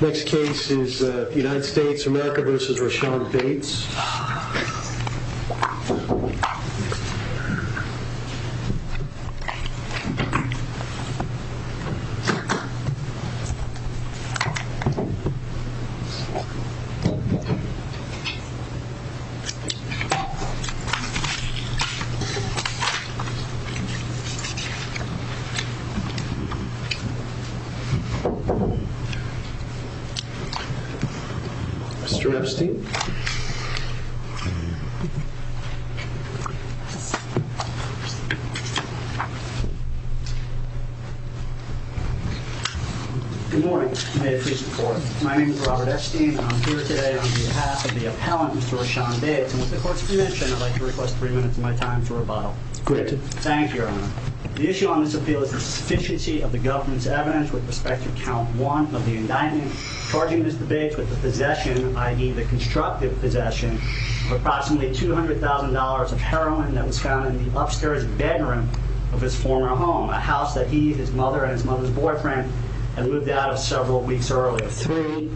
Next case is United States, America v. Rochelle Bates Robert Epstein Good morning. My name is Robert Epstein and I'm here today on behalf of the appellant, Mr. Rochelle Bates. And with the court's permission, I'd like to request three minutes of my time for rebuttal. Thank you, Your Honor. The issue on this appeal is the sufficiency of the government's evidence with respect to count one of the indictment charging Mr. Bates with the possession, i.e. the constructive possession, of approximately $200,000 of heroin that was found in the upstairs bedroom of his former home, a house that he, his mother, and his mother's boyfriend had moved out of several weeks earlier. Three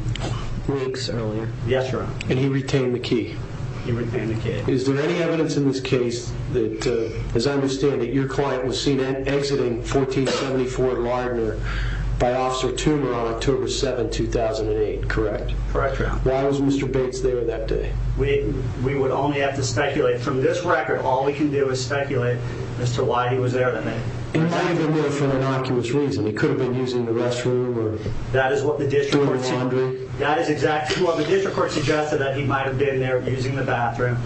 weeks earlier? Yes, Your Honor. And he retained the key? He retained the key. Is there any evidence in this case that, as I understand it, your client was seen exiting 1474 Lardner by Officer Toomer on October 7, 2008, correct? Correct, Your Honor. Why was Mr. Bates there that day? We would only have to speculate. From this record, all we can do is speculate as to why he was there that night. He might have been there for an innocuous reason. He could have been using the restroom or doing laundry. That is exactly what the district court suggested, that he might have been there using the bathroom.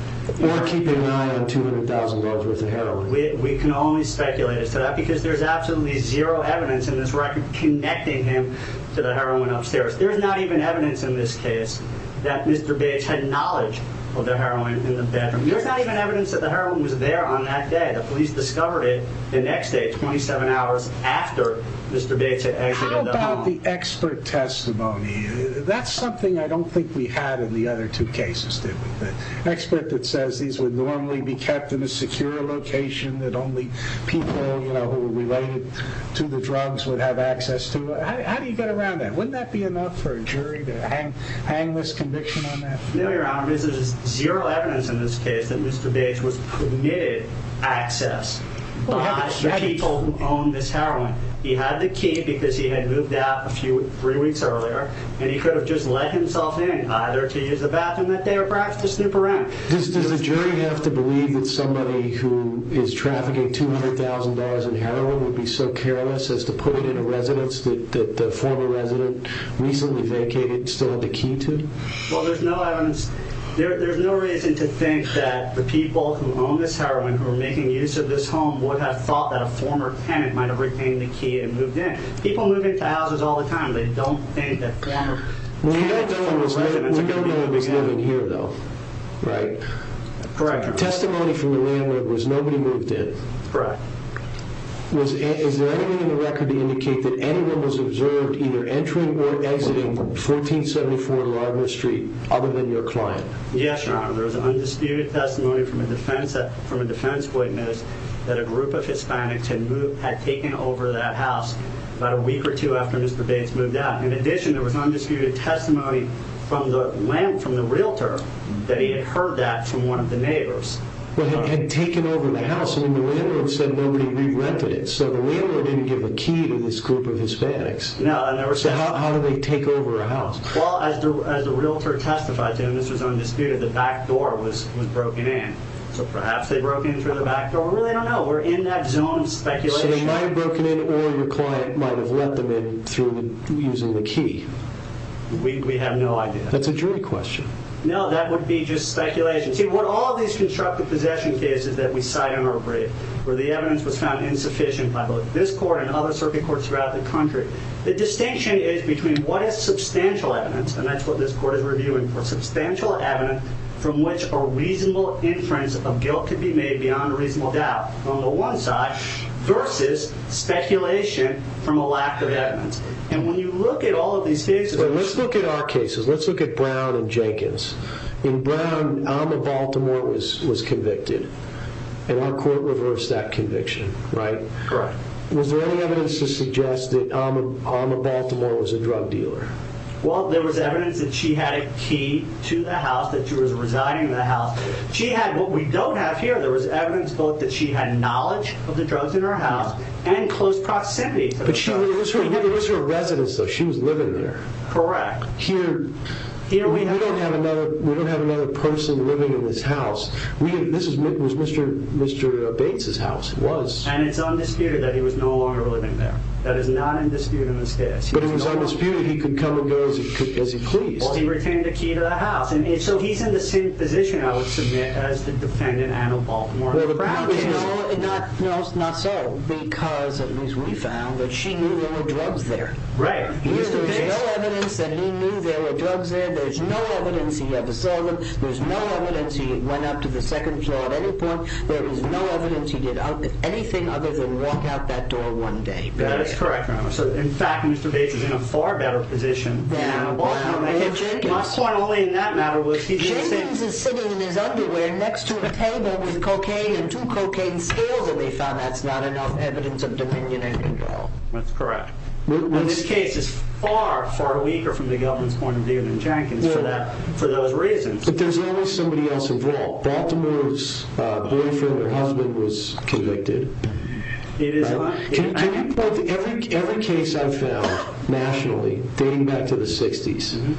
Or keeping an eye on $200,000 worth of heroin. We can only speculate as to that because there's absolutely zero evidence in this record connecting him to the heroin upstairs. There's not even evidence in this case that Mr. Bates had knowledge of the heroin in the bedroom. There's not even evidence that the heroin was there on that day. The police discovered it the next day, 27 hours after Mr. Bates had exited the home. What about the expert testimony? That's something I don't think we had in the other two cases, did we? The expert that says these would normally be kept in a secure location that only people who were related to the drugs would have access to. How do you get around that? Wouldn't that be enough for a jury to hang this conviction on that? No, Your Honor. There's zero evidence in this case that Mr. Bates was permitted access by the people who owned this heroin. He had the key because he had moved out three weeks earlier. And he could have just let himself in, either to use the bathroom that day or perhaps to snoop around. Does the jury have to believe that somebody who is trafficking $200,000 in heroin would be so careless as to put it in a residence that the former resident recently vacated and still had the key to? Well, there's no evidence. There's no reason to think that the people who own this heroin, who are making use of this home, would have thought that a former tenant might have retained the key and moved in. People move into houses all the time. They don't think that former tenants were residents. We don't know who was living here, though, right? Correct, Your Honor. Testimony from the landlord was nobody moved in. Correct. Is there anything in the record to indicate that anyone was observed either entering or exiting 1474 Larimer Street other than your client? Yes, Your Honor. There's undisputed testimony from a defense witness that a group of Hispanics had taken over that house about a week or two after Mr. Bates moved out. In addition, there was undisputed testimony from the realtor that he had heard that from one of the neighbors. Well, he had taken over the house, and the landlord said nobody re-rented it, so the landlord didn't give a key to this group of Hispanics. No, I never said that. So how do they take over a house? Well, as the realtor testified to him, this was undisputed, the back door was broken in. So perhaps they broke in through the back door. We really don't know. We're in that zone of speculation. So they might have broken in, or your client might have let them in through using the key. We have no idea. That's a jury question. No, that would be just speculation. See, with all these constructive possession cases that we cite in our brief, where the evidence was found insufficient by both this court and other circuit courts throughout the country, the distinction is between what is substantial evidence, and that's what this court is reviewing for, substantial evidence from which a reasonable inference of guilt could be made beyond a reasonable doubt on the one side, versus speculation from a lack of evidence. Let's look at our cases. Let's look at Brown and Jenkins. In Brown, Alma Baltimore was convicted, and our court reversed that conviction, right? Correct. Was there any evidence to suggest that Alma Baltimore was a drug dealer? Well, there was evidence that she had a key to the house, that she was residing in the house. She had what we don't have here. There was evidence both that she had knowledge of the drugs in her house and close proximity. But it was her residence, though. She was living there. Correct. Here, we don't have another person living in this house. This was Mr. Bates' house. It was. And it's undisputed that he was no longer living there. That is not undisputed in this case. But it was undisputed he could come and go as he pleased. Well, he retained the key to the house. So he's in the same position, I would submit, as the defendant, Alma Baltimore. No, not so, because at least we found that she knew there were drugs there. Right. There's no evidence that he knew there were drugs there. There's no evidence he ever sold them. There's no evidence he went up to the second floor at any point. There is no evidence he did anything other than walk out that door one day. That is correct, Your Honor. So, in fact, Mr. Bates is in a far better position than Alma Baltimore. My point only in that matter was he did the same thing. Jenkins is sitting in his underwear next to a table with cocaine and two cocaine scales, and they found that's not enough evidence of dominion any more. That's correct. Now, this case is far, far weaker from the government's point of view than Jenkins for those reasons. But there's always somebody else involved. Baltimore's boyfriend or husband was convicted. Can you point to every case I've found nationally dating back to the 60s,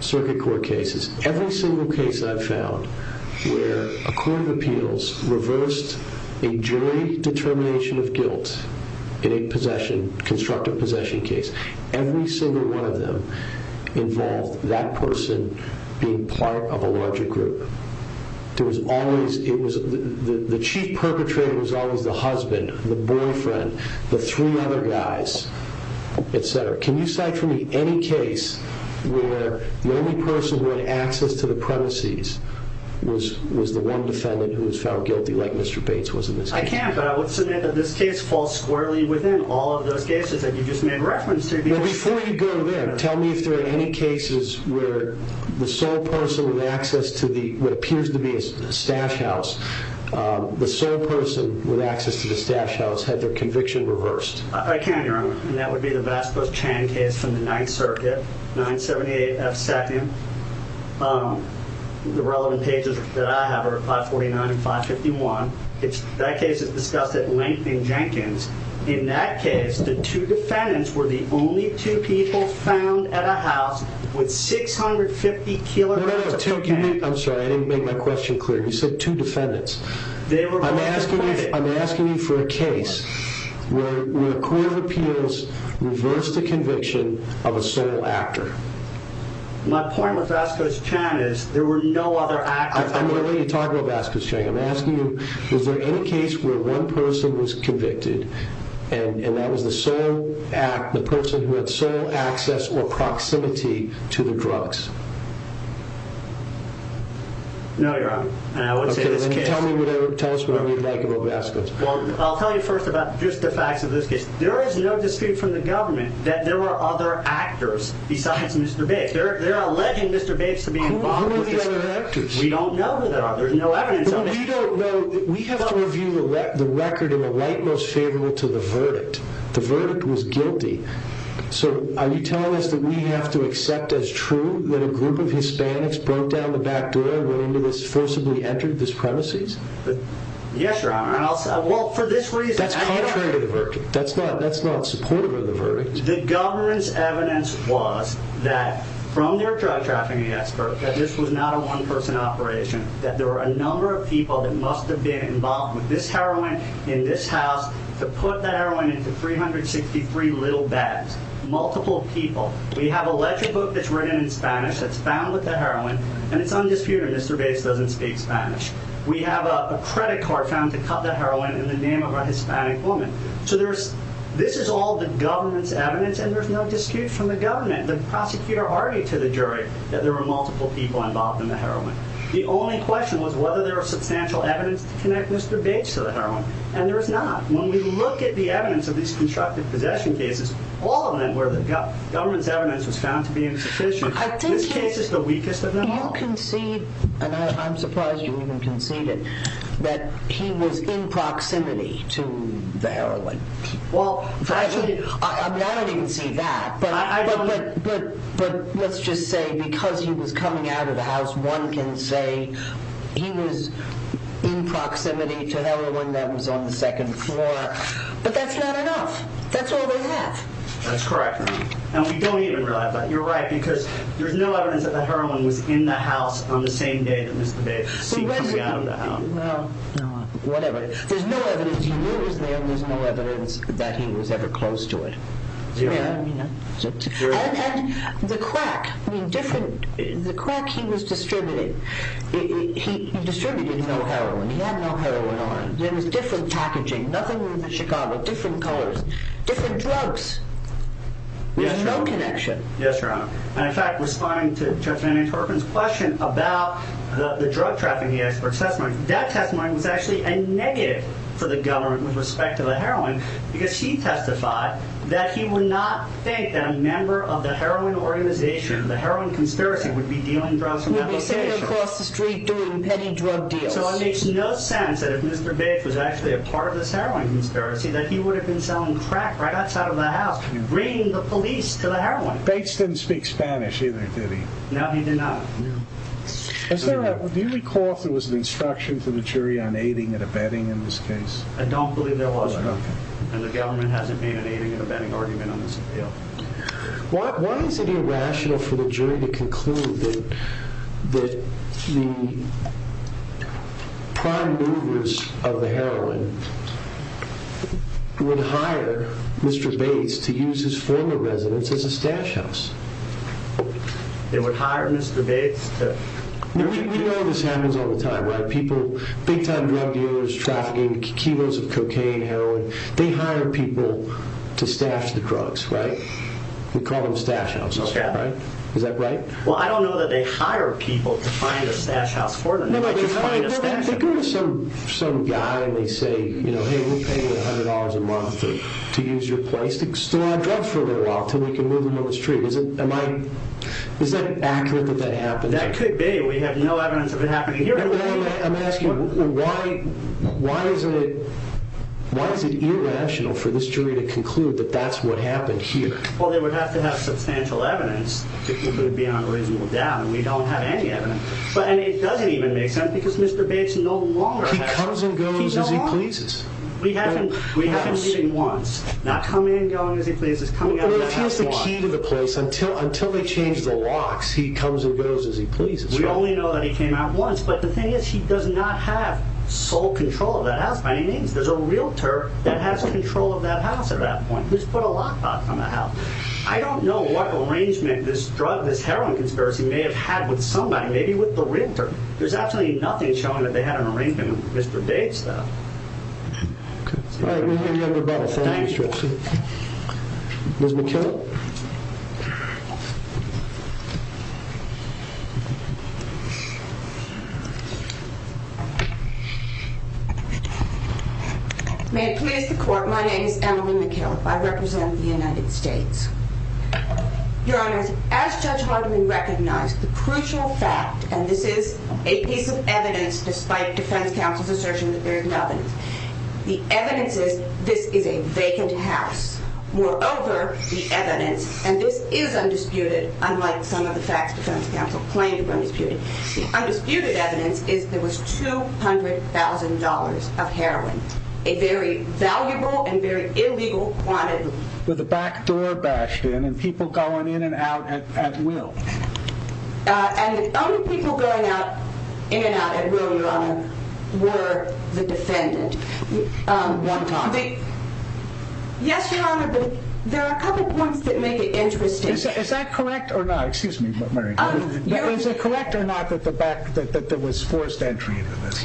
circuit court cases, every single case I've found where a court of appeals reversed a jury determination of guilt in a constructive possession case. Every single one of them involved that person being part of a larger group. The chief perpetrator was always the husband, the boyfriend, the three other guys, etc. Can you cite for me any case where the only person who had access to the premises was the one defendant who was found guilty like Mr. Bates was in this case? I can, but I would submit that this case falls squarely within all of those cases that you just made reference to. Before you go there, tell me if there are any cases where the sole person with access to what appears to be a stash house, the sole person with access to the stash house had their conviction reversed. I can, Your Honor. And that would be the Vasco Chan case from the Ninth Circuit, 978 F. Sapien. The relevant pages that I have are 549 and 551. That case is discussed at length in Jenkins. In that case, the two defendants were the only two people found at a house with 650 kilograms of cocaine. I'm sorry, I didn't make my question clear. You said two defendants. I'm asking you for a case where a court of appeals reversed the conviction of a sole actor. My point with Vasco Chan is there were no other actors. I'm going to let you talk about Vasco Chan. I'm asking you, is there any case where one person was convicted, and that was the sole person who had sole access or proximity to the drugs? No, Your Honor. Tell us whatever you'd like about Vasco. Well, I'll tell you first about just the facts of this case. There is no dispute from the government that there were other actors besides Mr. Bates. They're alleging Mr. Bates to be involved. Who are these other actors? We don't know who they are. There's no evidence of it. We don't know. We have to review the record in the light most favorable to the verdict. The verdict was guilty. So are you telling us that we have to accept as true that a group of Hispanics broke down the back door and went into this, forcibly entered this premises? Yes, Your Honor. Well, for this reason. That's contrary to the verdict. That's not supportive of the verdict. The government's evidence was that from their drug trafficking expert that this was not a one person operation. That there were a number of people that must have been involved with this heroin in this house to put the heroin into 363 little bags. Multiple people. We have a ledger book that's written in Spanish that's found with the heroin and it's undisputed Mr. Bates doesn't speak Spanish. We have a credit card found to cut the heroin in the name of a Hispanic woman. So this is all the government's evidence and there's no dispute from the government. The prosecutor argued to the jury that there were multiple people involved in the heroin. The only question was whether there was substantial evidence to connect Mr. Bates to the heroin. And there is not. When we look at the evidence of these constructive possession cases, all of them where the government's evidence was found to be insufficient, this case is the weakest of them all. You concede, and I'm surprised you even conceded, that he was in proximity to the heroin. I don't even see that. But let's just say because he was coming out of the house, one can say he was in proximity to heroin that was on the second floor. But that's not enough. That's all they have. That's correct. And we don't even realize that. You're right because there's no evidence that the heroin was in the house on the same day that Mr. Bates was seen coming out of the house. Whatever. There's no evidence. He knew it was there. There's no evidence that he was ever close to it. You know what I mean? And the crack. The crack he was distributing. He distributed no heroin. He had no heroin on him. There was different packaging. Nothing in Chicago. Different colors. Different drugs. There's no connection. Yes, Your Honor. And, in fact, responding to Judge Manny Torpin's question about the drug trafficking expert's testimony, that testimony was actually a negative for the government with respect to the heroin because he testified that he would not think that a member of the heroin organization, the heroin conspiracy, would be dealing drugs from that location. Would be sitting across the street doing petty drug deals. So it makes no sense that if Mr. Bates was actually a part of this heroin conspiracy that he would have been selling crack right outside of the house and bringing the police to the heroin. Bates didn't speak Spanish either, did he? No, he did not. No. Do you recall if there was an instruction to the jury on aiding and abetting in this case? I don't believe there was, Your Honor. Okay. And the government hasn't made an aiding and abetting argument on this appeal. Why is it irrational for the jury to conclude that the prime movers of the heroin would hire Mr. Bates to use his former residence as a stash house? They would hire Mr. Bates to... We know this happens all the time, right? People, big-time drug dealers trafficking kilos of cocaine, heroin, they hire people to stash the drugs, right? We call them stash houses, right? Is that right? Well, I don't know that they hire people to find a stash house for them. They just find a stash house. They go to some guy and they say, you know, hey, we're paying you $100 a month to use your place to store our drugs for a little while until we can move them to the street. Is that accurate that that happens? That could be. We have no evidence of it happening here. I'm asking, why is it irrational for this jury to conclude that that's what happened here? Well, they would have to have substantial evidence to put it beyond a reasonable doubt, and we don't have any evidence. And it doesn't even make sense because Mr. Bates no longer has... He comes and goes as he pleases. We have him leaving once, not coming and going as he pleases. Well, if he has the key to the place, until they change the locks, he comes and goes as he pleases. We only know that he came out once. But the thing is, he does not have sole control of that house by any means. There's a realtor that has control of that house at that point. Who's put a lockbox on the house? I don't know what arrangement this drug, this heroin conspiracy may have had with somebody, maybe with the realtor. There's absolutely nothing showing that they had an arrangement with Mr. Bates, though. Okay. All right. We'll hand you over to the final instruction. Ms. McKillop? May it please the Court, my name is Emily McKillop. I represent the United States. Your Honor, as Judge Hardiman recognized, the crucial fact, and this is a piece of evidence despite defense counsel's assertion that there is no evidence. The evidence is this is a vacant house. Moreover, the evidence, and this is undisputed, unlike some of the facts defense counsel claimed were undisputed, the undisputed evidence is there was $200,000 of heroin, a very valuable and very illegal quantity. With a backdoor bashed in and people going in and out at will. And the only people going in and out at will, Your Honor, were the defendant. One time. Yes, Your Honor, but there are a couple points that make it interesting. Is that correct or not? Excuse me, Mary. Is it correct or not that there was forced entry into this?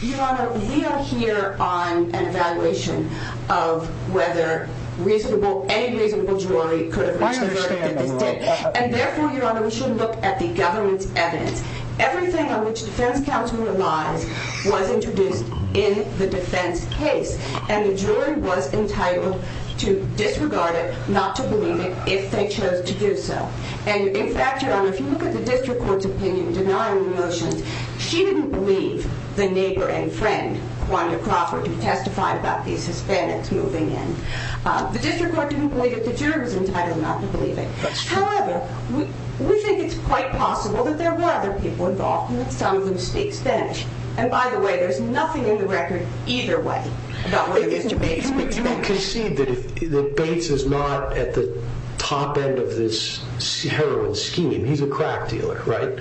Your Honor, we are here on an evaluation of whether reasonable, any reasonable jury could have reached a verdict at this date. And therefore, Your Honor, we should look at the government's evidence. Everything on which defense counsel relies was introduced in the defense case. And the jury was entitled to disregard it, not to believe it, if they chose to do so. And in fact, Your Honor, if you look at the district court's opinion denying the motions, she didn't believe the neighbor and friend, Quanda Crawford, who testified about these Hispanics moving in. The district court didn't believe it. The jury was entitled not to believe it. However, we think it's quite possible that there were other people involved, some of whom speak Spanish. And by the way, there's nothing in the record either way about whether Mr. Bates was Spanish. But you don't concede that Bates is not at the top end of this heroin scheme. He's a crack dealer, right?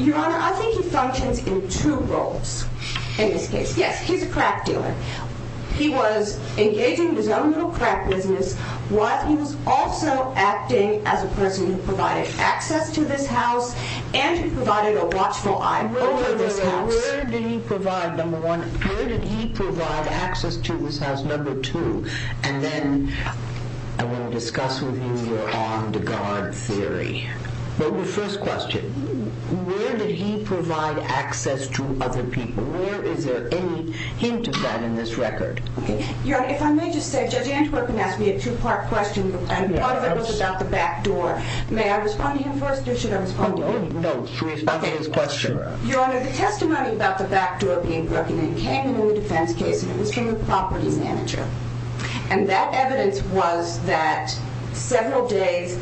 Your Honor, I think he functions in two roles in this case. Yes, he's a crack dealer. He was engaging in his own little crack business while he was also acting as a person who provided access to this house and who provided a watchful eye over this house. Where did he provide, number one, where did he provide access to this house, number two? And then I want to discuss with you your armed guard theory. But your first question, where did he provide access to other people? Is there any hint of that in this record? Your Honor, if I may just say, Judge Antwerpen asked me a two-part question and part of it was about the back door. May I respond to him first or should I respond to him? No, you should respond to his question. Your Honor, the testimony about the back door being broken in came in the defense case, and it was from the property manager. And that evidence was that several days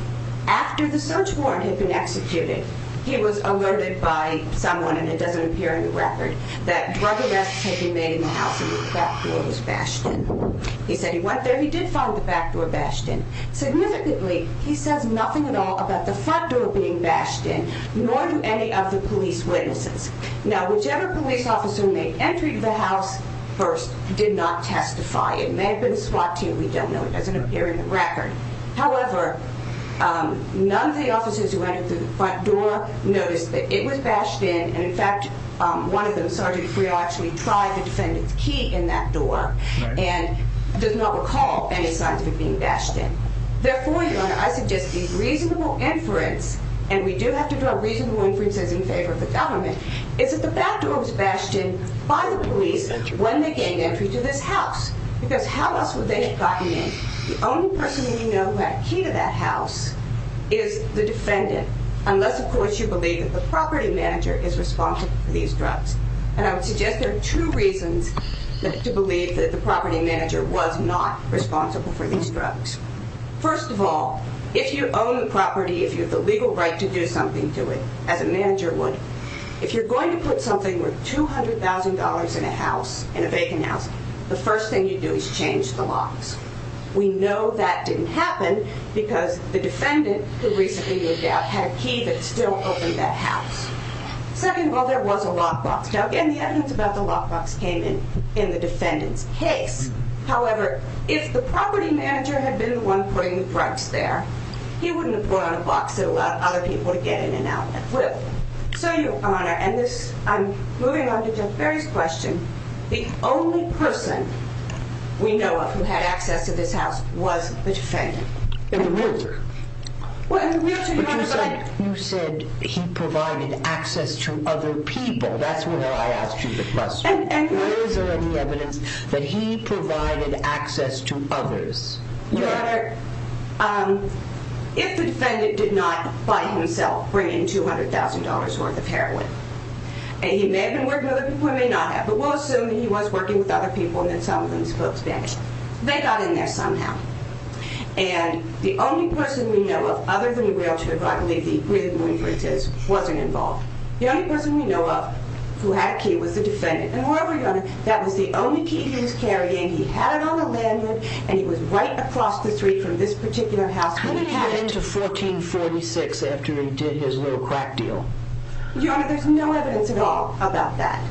after the search warrant had been executed, he was alerted by someone, and it doesn't appear in the record, that drug arrests had been made in the house and the back door was bashed in. He said he went there, he did find the back door bashed in. Significantly, he says nothing at all about the front door being bashed in, nor do any of the police witnesses. Now, whichever police officer made entry to the house first did not testify. It may have been a SWAT team, we don't know. It doesn't appear in the record. However, none of the officers who entered the front door noticed that it was bashed in, and, in fact, one of them, Sergeant Freo, actually tried to defend its key in that door and does not recall any signs of it being bashed in. Therefore, Your Honor, I suggest a reasonable inference, and we do have to draw reasonable inferences in favor of the government, is that the back door was bashed in by the police when they gained entry to this house because how else would they have gotten in? The only person we know who had a key to that house is the defendant, unless, of course, you believe that the property manager is responsible for these drugs. And I would suggest there are two reasons to believe that the property manager was not responsible for these drugs. First of all, if you own the property, if you have the legal right to do something to it, as a manager would, if you're going to put something worth $200,000 in a house, in a vacant house, the first thing you do is change the locks. We know that didn't happen because the defendant, who recently moved out, had a key that still opened that house. Second of all, there was a lockbox. Now, again, the evidence about the lockbox came in in the defendant's case. However, if the property manager had been the one putting the drugs there, he wouldn't have put on a box that allowed other people to get in and out that way. So, Your Honor, and I'm moving on to Jeff Berry's question, the only person we know of who had access to this house was the defendant. In the wheelchair? Well, in the wheelchair, Your Honor, but... But you said he provided access to other people. That's why I asked you the question. And where is there any evidence that he provided access to others? Your Honor, if the defendant did not, by himself, bring in $200,000 worth of heroin, he may have been working with other people, he may not have, but we'll assume that he was working with other people and that some of them spoke Spanish. They got in there somehow. And the only person we know of, other than the wheelchair driver, I believe the real influence is, wasn't involved. The only person we know of who had a key was the defendant. And moreover, Your Honor, that was the only key he was carrying. He had it on a lanyard, and he was right across the street from this particular house. How did he get into 1446 after he did his little crack deal? Your Honor, there's no evidence at all about that.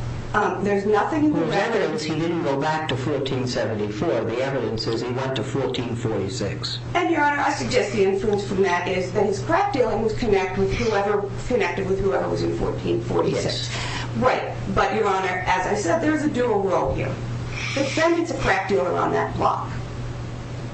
There's nothing in the records... There's evidence he didn't go back to 1474. The evidence says he went to 1446. And, Your Honor, I suggest the influence from that is that his crack deal was connected with whoever was in 1446. Yes. Right. But, Your Honor, as I said, there's a dual role here. The defendant's a crack dealer on that block.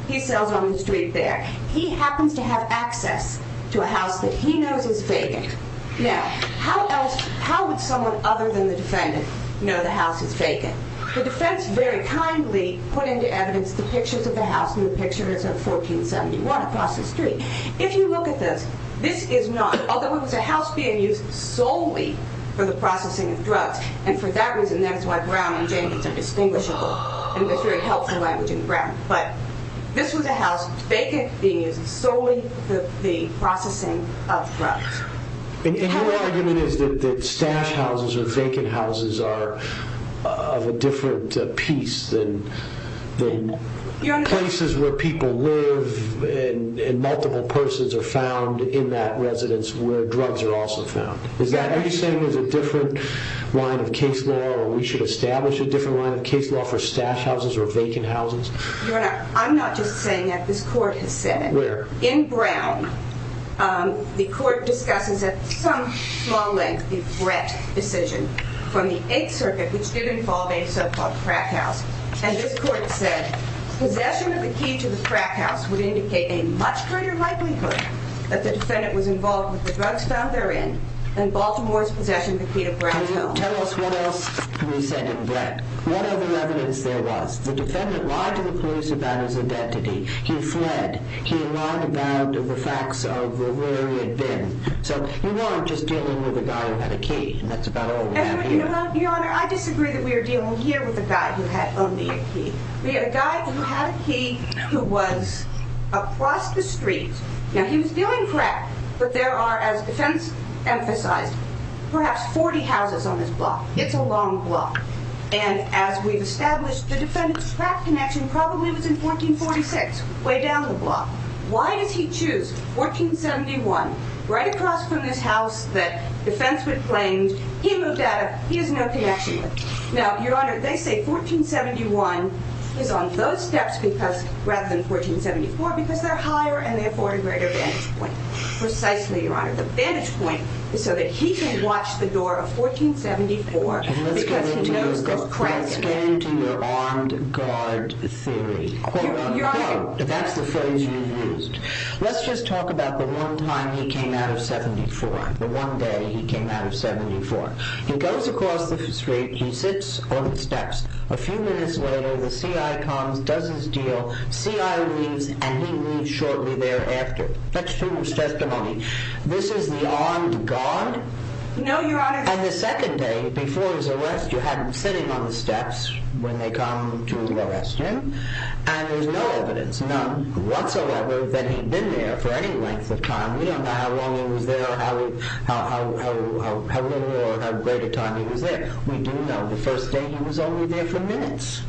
He sells on the street there. He happens to have access to a house that he knows is vacant. Now, how would someone other than the defendant know the house is vacant? The defense very kindly put into evidence the pictures of the house, and the picture is of 1471 across the street. If you look at this, this is not... Although it was a house being used solely for the processing of drugs, and for that reason that is why Brown and Jamies are distinguishable in this very helpful language in Brown. But this was a house vacant being used solely for the processing of drugs. And your argument is that stash houses or vacant houses are of a different piece than places where people live and multiple persons are found in that residence where drugs are also found. Are you saying there's a different line of case law, or we should establish a different line of case law for stash houses or vacant houses? Your Honor, I'm not just saying that. This court has said it. Where? In Brown, the court discusses at some small length the Brett decision from the Eighth Circuit, which did involve a so-called crack house. And this court said possession of the key to the crack house would indicate a much greater likelihood that the defendant was involved with the drugs found therein than Baltimore's possession of the key to Brown's home. Tell us what else we said in Brett. What other evidence there was? The defendant lied to the police about his identity. He fled. He lied about the facts of where he had been. So you are just dealing with a guy who had a key, and that's about all we have here. Your Honor, I disagree that we are dealing here with a guy who had only a key. We had a guy who had a key who was across the street. Now, he was dealing crack, but there are, as defense emphasized, perhaps 40 houses on this block. It's a long block. And as we've established, the defendant's crack connection probably was in 1446, way down the block. Why does he choose 1471, right across from this house that defense would claim he moved out of, he has no connection with? Now, Your Honor, they say 1471 is on those steps rather than 1474 because they're higher and they afford a greater vantage point. Precisely, Your Honor. The vantage point is so that he can watch the door of 1474 because he knows there's crack in it. Let's get into your armed guard theory. Your Honor. That's the phrase you used. Let's just talk about the one time he came out of 74, the one day he came out of 74. He goes across the street. He sits on the steps. A few minutes later, the CI comes, does his deal. CI leaves, and he leaves shortly thereafter. That's true testimony. This is the armed guard. No, Your Honor. And the second day, before his arrest, you had him sitting on the steps when they come to arrest him. And there's no evidence, none whatsoever, that he'd been there for any length of time. We don't know how long he was there or how little or how great a time he was there. We do know the first day he was only there for minutes.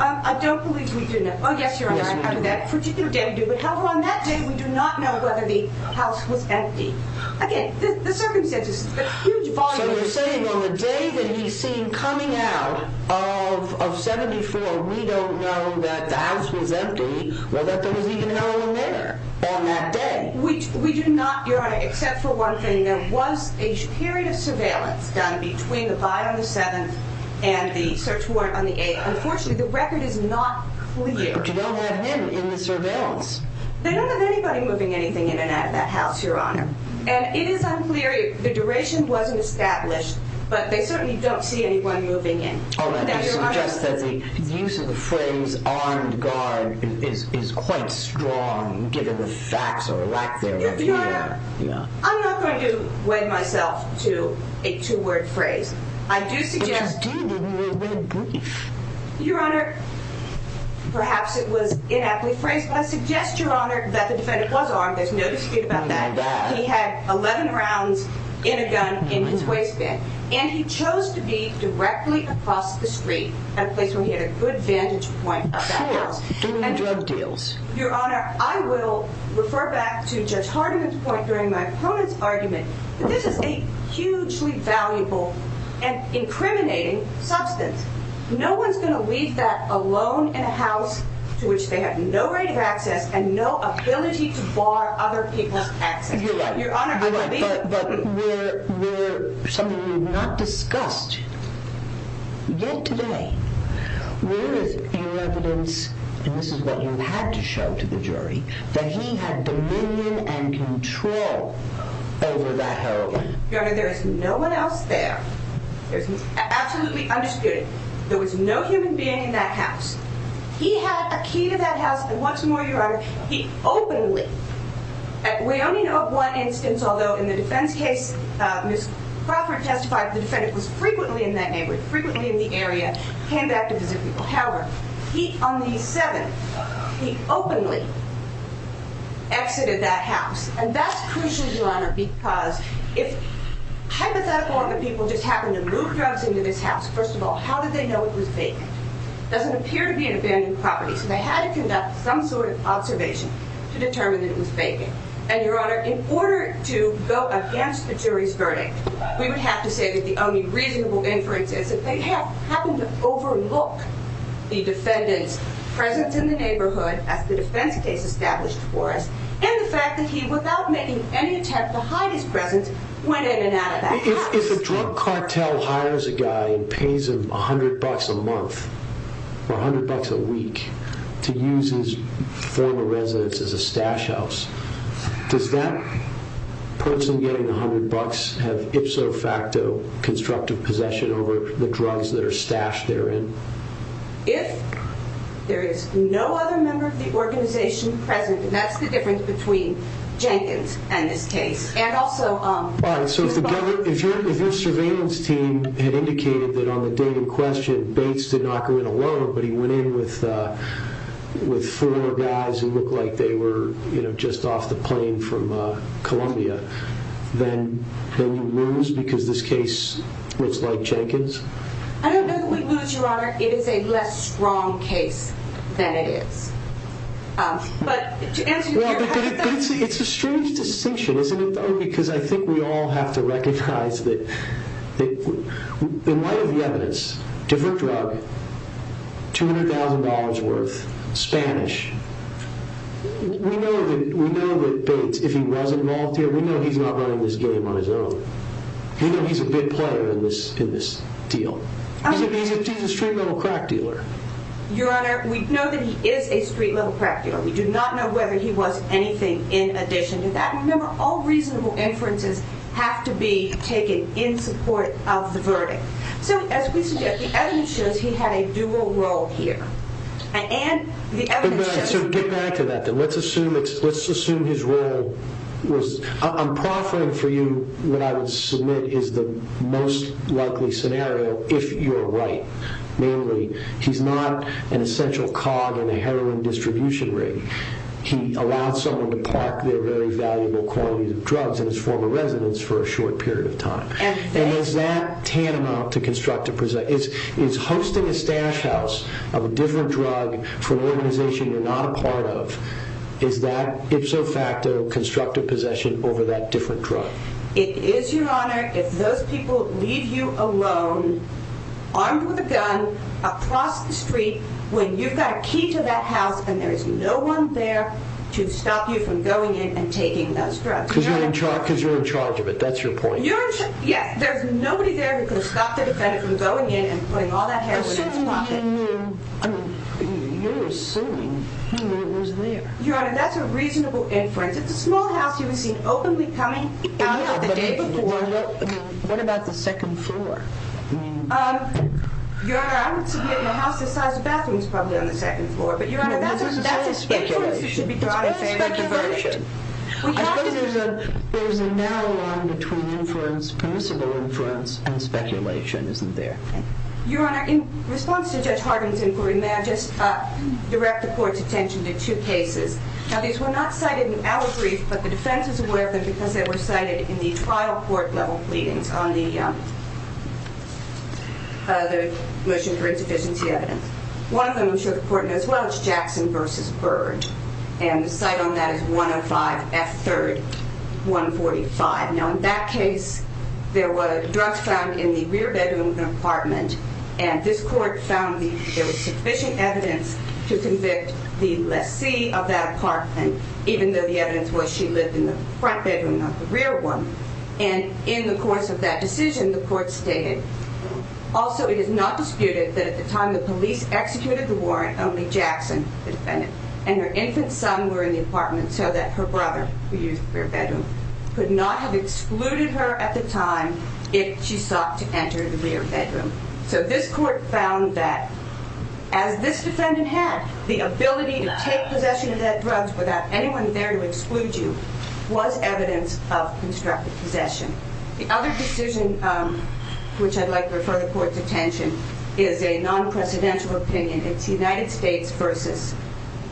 I don't believe we do know. Oh, yes, Your Honor. However, on that day, we do not know whether the house was empty. Again, the circumstances. So you're saying on the day that he's seen coming out of 74, we don't know that the house was empty or that there was even hell in there on that day. We do not, Your Honor, except for one thing. There was a period of surveillance done between the buy on the 7th and the search warrant on the 8th. Unfortunately, the record is not clear. But you don't have him in the surveillance. They don't have anybody moving anything in and out of that house, Your Honor. And it is unclear. The duration wasn't established. But they certainly don't see anyone moving in. All right. I suggest that the use of the phrase armed guard is quite strong, given the facts or lack thereof. Your Honor, I'm not going to wed myself to a two-word phrase. I do suggest— But you did in your red brief. Your Honor, perhaps it was an aptly phrased, but I suggest, Your Honor, that the defendant was armed. There's no dispute about that. He had 11 rounds in a gun in his waistband. And he chose to be directly across the street at a place where he had a good vantage point of that house. Sure, during the drug deals. Your Honor, I will refer back to Judge Hardiman's point during my opponent's argument that this is a hugely valuable and incriminating substance. No one's going to leave that alone in a house to which they have no right of access and no ability to bar other people's access. You're right. Your Honor, I believe— But we're—something we've not discussed yet today. Where is your evidence—and this is what you had to show to the jury— that he had dominion and control over that heroin? Your Honor, there is no one else there. Absolutely undisputed. There was no human being in that house. He had a key to that house, and once more, Your Honor, he openly— we only know of one instance, although in the defense case, Ms. Crawford testified the defendant was frequently in that neighborhood, frequently in the area, came back to visit people. However, on the 7th, he openly exited that house. And that's crucial, Your Honor, because if, hypothetically, one of the people just happened to move drugs into this house, first of all, how did they know it was vacant? It doesn't appear to be an abandoned property, so they had to conduct some sort of observation to determine that it was vacant. And, Your Honor, in order to go against the jury's verdict, we would have to say that the only reasonable inference is that they happened to overlook the defendant's presence in the neighborhood, as the defense case established for us, and the fact that he, without making any attempt to hide his presence, went in and out of that house. If a drug cartel hires a guy and pays him $100 a month or $100 a week to use his former residence as a stash house, does that person getting $100 have ipso facto constructive possession over the drugs that are stashed therein? If there is no other member of the organization present, that's the difference between Jenkins and this case. And also... All right, so if your surveillance team had indicated that on the day in question Bates did not go in alone, but he went in with four guys who looked like they were just off the plane from Columbia, then you lose because this case looks like Jenkins? I don't know that we lose, Your Honor. It is a less strong case than it is. But to answer your question... It's a strange distinction, isn't it, though? Because I think we all have to recognize that in light of the evidence, different drug, $200,000 worth, Spanish, we know that Bates, if he was involved here, we know he's not running this game on his own. We know he's a big player in this deal. He's a straight metal crack dealer. Your Honor, we know that he is a straight metal crack dealer. We do not know whether he was anything in addition to that. Remember, all reasonable inferences have to be taken in support of the verdict. So as we suggest, the evidence shows he had a dual role here. And the evidence shows... So get back to that, then. Let's assume his role was... I'm proffering for you what I would submit is the most likely scenario if you're right. Namely, he's not an essential cog in a heroin distribution ring. He allowed someone to park their very valuable quantities of drugs in his former residence for a short period of time. And is that tantamount to constructive possession? Is hosting a stash house of a different drug for an organization you're not a part of, is that ipso facto constructive possession over that different drug? It is, Your Honor. If those people leave you alone, armed with a gun, across the street, when you've got a key to that house, and there is no one there to stop you from going in and taking those drugs. Because you're in charge of it. That's your point. Yes, there's nobody there who can stop the defendant from going in and putting all that heroin in his pocket. You're assuming he was there. Your Honor, that's a reasonable inference. It's a small house. He was seen openly coming out the day before. Well, what about the second floor? Your Honor, I don't see it in a house this size. The bathroom's probably on the second floor. But Your Honor, that's an inference that should be drawn. I suppose there's a narrow line between inference, permissible inference, and speculation, isn't there? Your Honor, in response to Judge Harden's inquiry, may I just direct the Court's attention to two cases. Now, these were not cited in our brief, but the defense is aware of them because they were cited in the trial court-level pleadings on the motion for insufficiency evidence. One of them, which I'm sure the Court knows well, is Jackson v. Byrd, and the cite on that is 105 F. 3rd, 145. Now, in that case, there were drugs found in the rear bedroom of an apartment, and this Court found there was sufficient evidence to convict the lessee of that apartment, even though the evidence was she lived in the front bedroom, not the rear one. And in the course of that decision, the Court stated, also it is not disputed that at the time the police executed the warrant, only Jackson, the defendant, and her infant son were in the apartment so that her brother, who used the rear bedroom, could not have excluded her at the time if she sought to enter the rear bedroom. So this Court found that, as this defendant had the ability to take possession of that drug without anyone there to exclude you, was evidence of constructive possession. The other decision which I'd like to refer the Court's attention is a non-precedential opinion. It's United States v.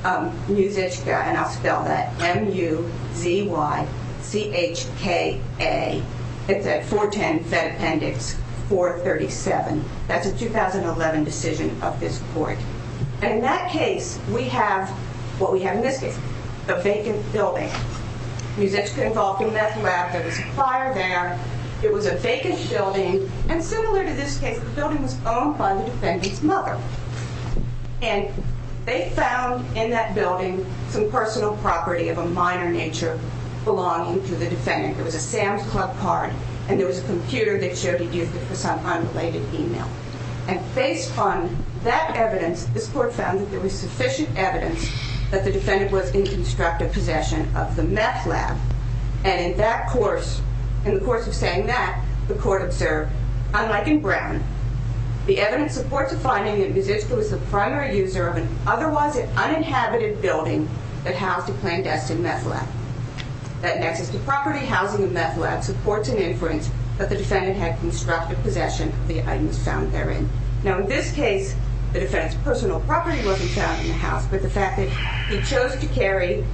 Muzychka, and I'll spell that M-U-Z-Y-C-H-K-A. It's at 410 Fed Appendix 437. That's a 2011 decision of this Court. And in that case, we have what we have in this case, a vacant building. Muzychka involved in meth lab. There was a fire there. It was a vacant building, and similar to this case, the building was owned by the defendant's mother. And they found in that building some personal property of a minor nature belonging to the defendant. It was a Sam's Club card, and there was a computer that showed he used it for some unrelated email. And based on that evidence, this Court found that there was sufficient evidence that the defendant was in constructive possession of the meth lab. And in the course of saying that, the Court observed, unlike in Brown, the evidence supports a finding that Muzychka was the primary user of an otherwise uninhabited building that housed a clandestine meth lab. That in excess of the property housing of meth lab supports an inference that the defendant had constructive possession of the items found therein. Now in this case, the defendant's personal property wasn't found in the house, but the fact that he chose to carry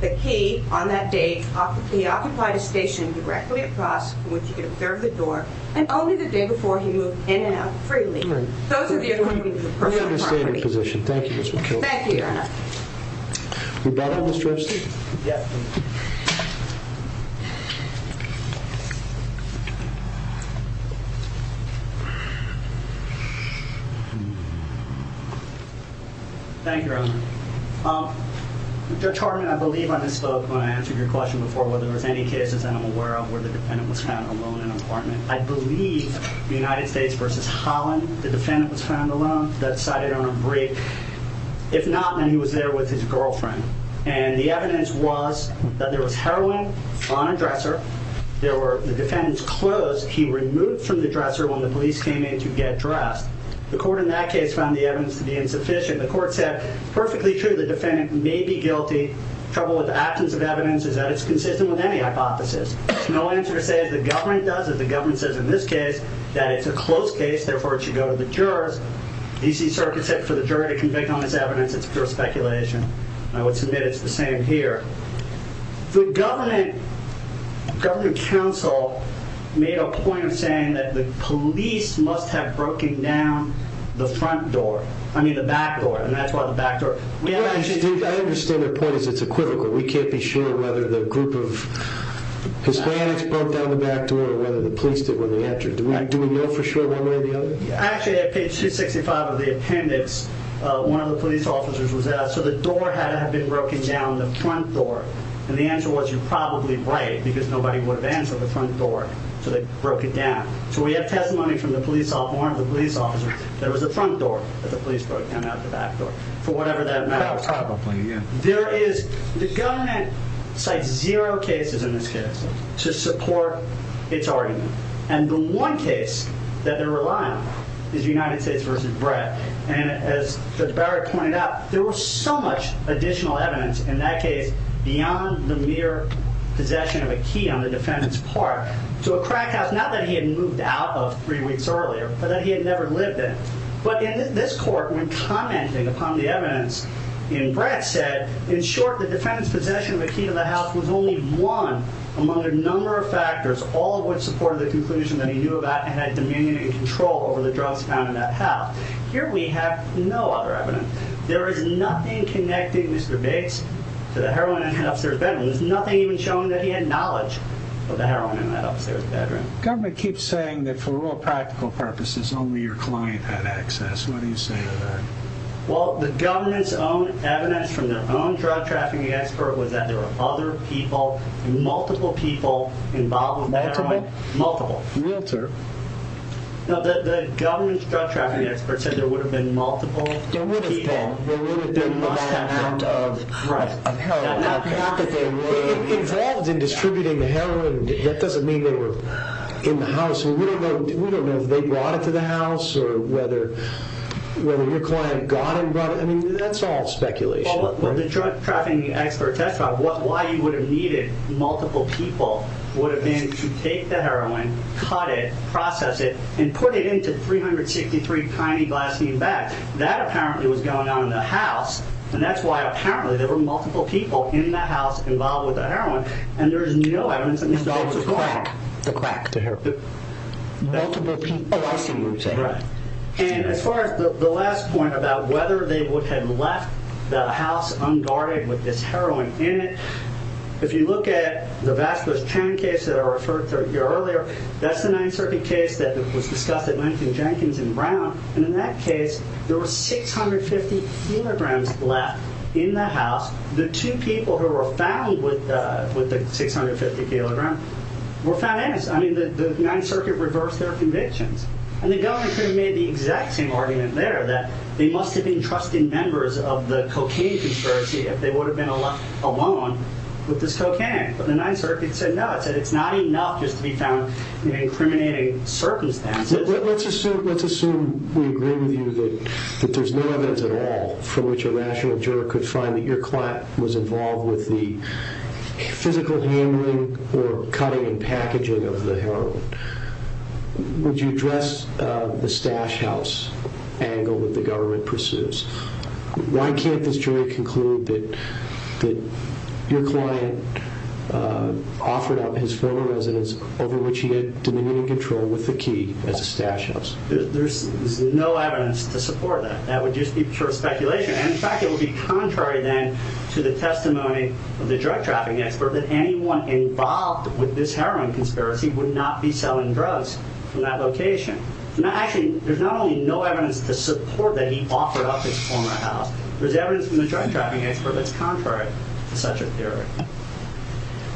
the key on that day, he occupied a station directly across from which he could observe the door, and only the day before he moved in and out freely. Those are the attorneys' personal property. Thank you, Ms. McKelvey. Thank you, Your Honor. Rebuttal, Mr. Estes? Yes. Thank you, Your Honor. Judge Hartman, I believe I misspoke when I answered your question before whether there was any cases that I'm aware of where the defendant was found alone in an apartment. I believe the United States versus Holland, the defendant was found alone. That's cited on a brief. If not, then he was there with his girlfriend. And the evidence was that there was heroin on a dresser. There were the defendant's clothes he removed from the dresser when the police arrived. The police came in to get dressed. The court in that case found the evidence to be insufficient. The court said, perfectly true, the defendant may be guilty. The trouble with the absence of evidence is that it's consistent with any hypothesis. There's no answer to say if the government does it. The government says in this case that it's a close case, therefore it should go to the jurors. The D.C. Circuit said for the juror to convict on this evidence, it's pure speculation. I would submit it's the same here. The government council made a point of saying that the police must have broken down the front door, I mean the back door, and that's why the back door. I understand the point is it's equivocal. We can't be sure whether the group of Hispanics broke down the back door or whether the police did when they entered. Do we know for sure one way or the other? Actually, at page 265 of the appendix, one of the police officers was asked, so the door had to have been broken down, the front door. And the answer was, you're probably right, because nobody would have answered the front door, so they broke it down. So we have testimony from one of the police officers that it was the front door that the police broke down, not the back door, for whatever that matter. Probably, yeah. The government cites zero cases in this case to support its argument, and the one case that they're relying on is United States v. Brett. And as Judge Barrett pointed out, there was so much additional evidence in that case beyond the mere possession of a key on the defendant's part to a crack house, not that he had moved out of three weeks earlier, but that he had never lived in. But this court, when commenting upon the evidence in Brett, said, in short, the defendant's possession of a key to the house was only one among a number of factors, all of which supported the conclusion that he knew about and had dominion and control over the drugs found in that house. Here we have no other evidence. There is nothing connecting Mr. Bates to the heroin in the officer's bedroom. There's nothing even showing that he had knowledge of the heroin in that officer's bedroom. The government keeps saying that for all practical purposes, only your client had access. What do you say to that? Well, the government's own evidence from their own drug-trafficking expert was that there were other people, multiple people, involved with the heroin. Multiple? Multiple. Realtor. No, the government's drug-trafficking expert said there would have been multiple people. There would have been. There would have been that amount of heroin. Involved in distributing the heroin, that doesn't mean they were in the house. We don't know if they brought it to the house or whether your client got it and brought it. I mean, that's all speculation. Well, the drug-trafficking expert testified why you would have needed multiple people would have been to take the heroin, cut it, process it, and put it into 363 tiny glassine bags. That apparently was going on in the house, and that's why apparently there were multiple people in the house involved with the heroin, and there is no evidence that these dogs were going there. The crack. The crack. Multiple people. Right. And as far as the last point about whether they would have left the house unguarded with this heroin in it, if you look at the Vasquez-Chan case that I referred to earlier, that's the Ninth Circuit case that was discussed at Lincoln-Jenkins and Brown, and in that case there were 650 kilograms left in the house. The two people who were found with the 650 kilograms were found innocent. I mean, the Ninth Circuit reversed their convictions, and the government could have made the exact same argument there that they must have been trusted members of the cocaine conspiracy if they would have been alone with this cocaine. But the Ninth Circuit said no. It said it's not enough just to be found in incriminating circumstances. Let's assume we agree with you that there's no evidence at all from which a rational juror could find that your client was involved with the physical handling or cutting and packaging of the heroin. Would you address the stash house angle that the government pursues? Why can't this jury conclude that your client offered up his former residence over which he had dominion and control with the key as a stash house? There's no evidence to support that. That would just be pure speculation. In fact, it would be contrary then to the testimony of the drug-trafficking expert that anyone involved with this heroin conspiracy would not be selling drugs from that location. Actually, there's not only no evidence to support that he offered up his former house, there's evidence from the drug-trafficking expert that's contrary to such a theory.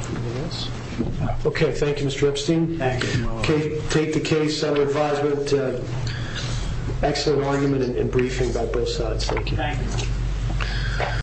Anything else? Okay. Thank you, Mr. Epstein. Thank you. Take the case. I would advise an excellent argument and briefing by both sides. Thank you. Thank you.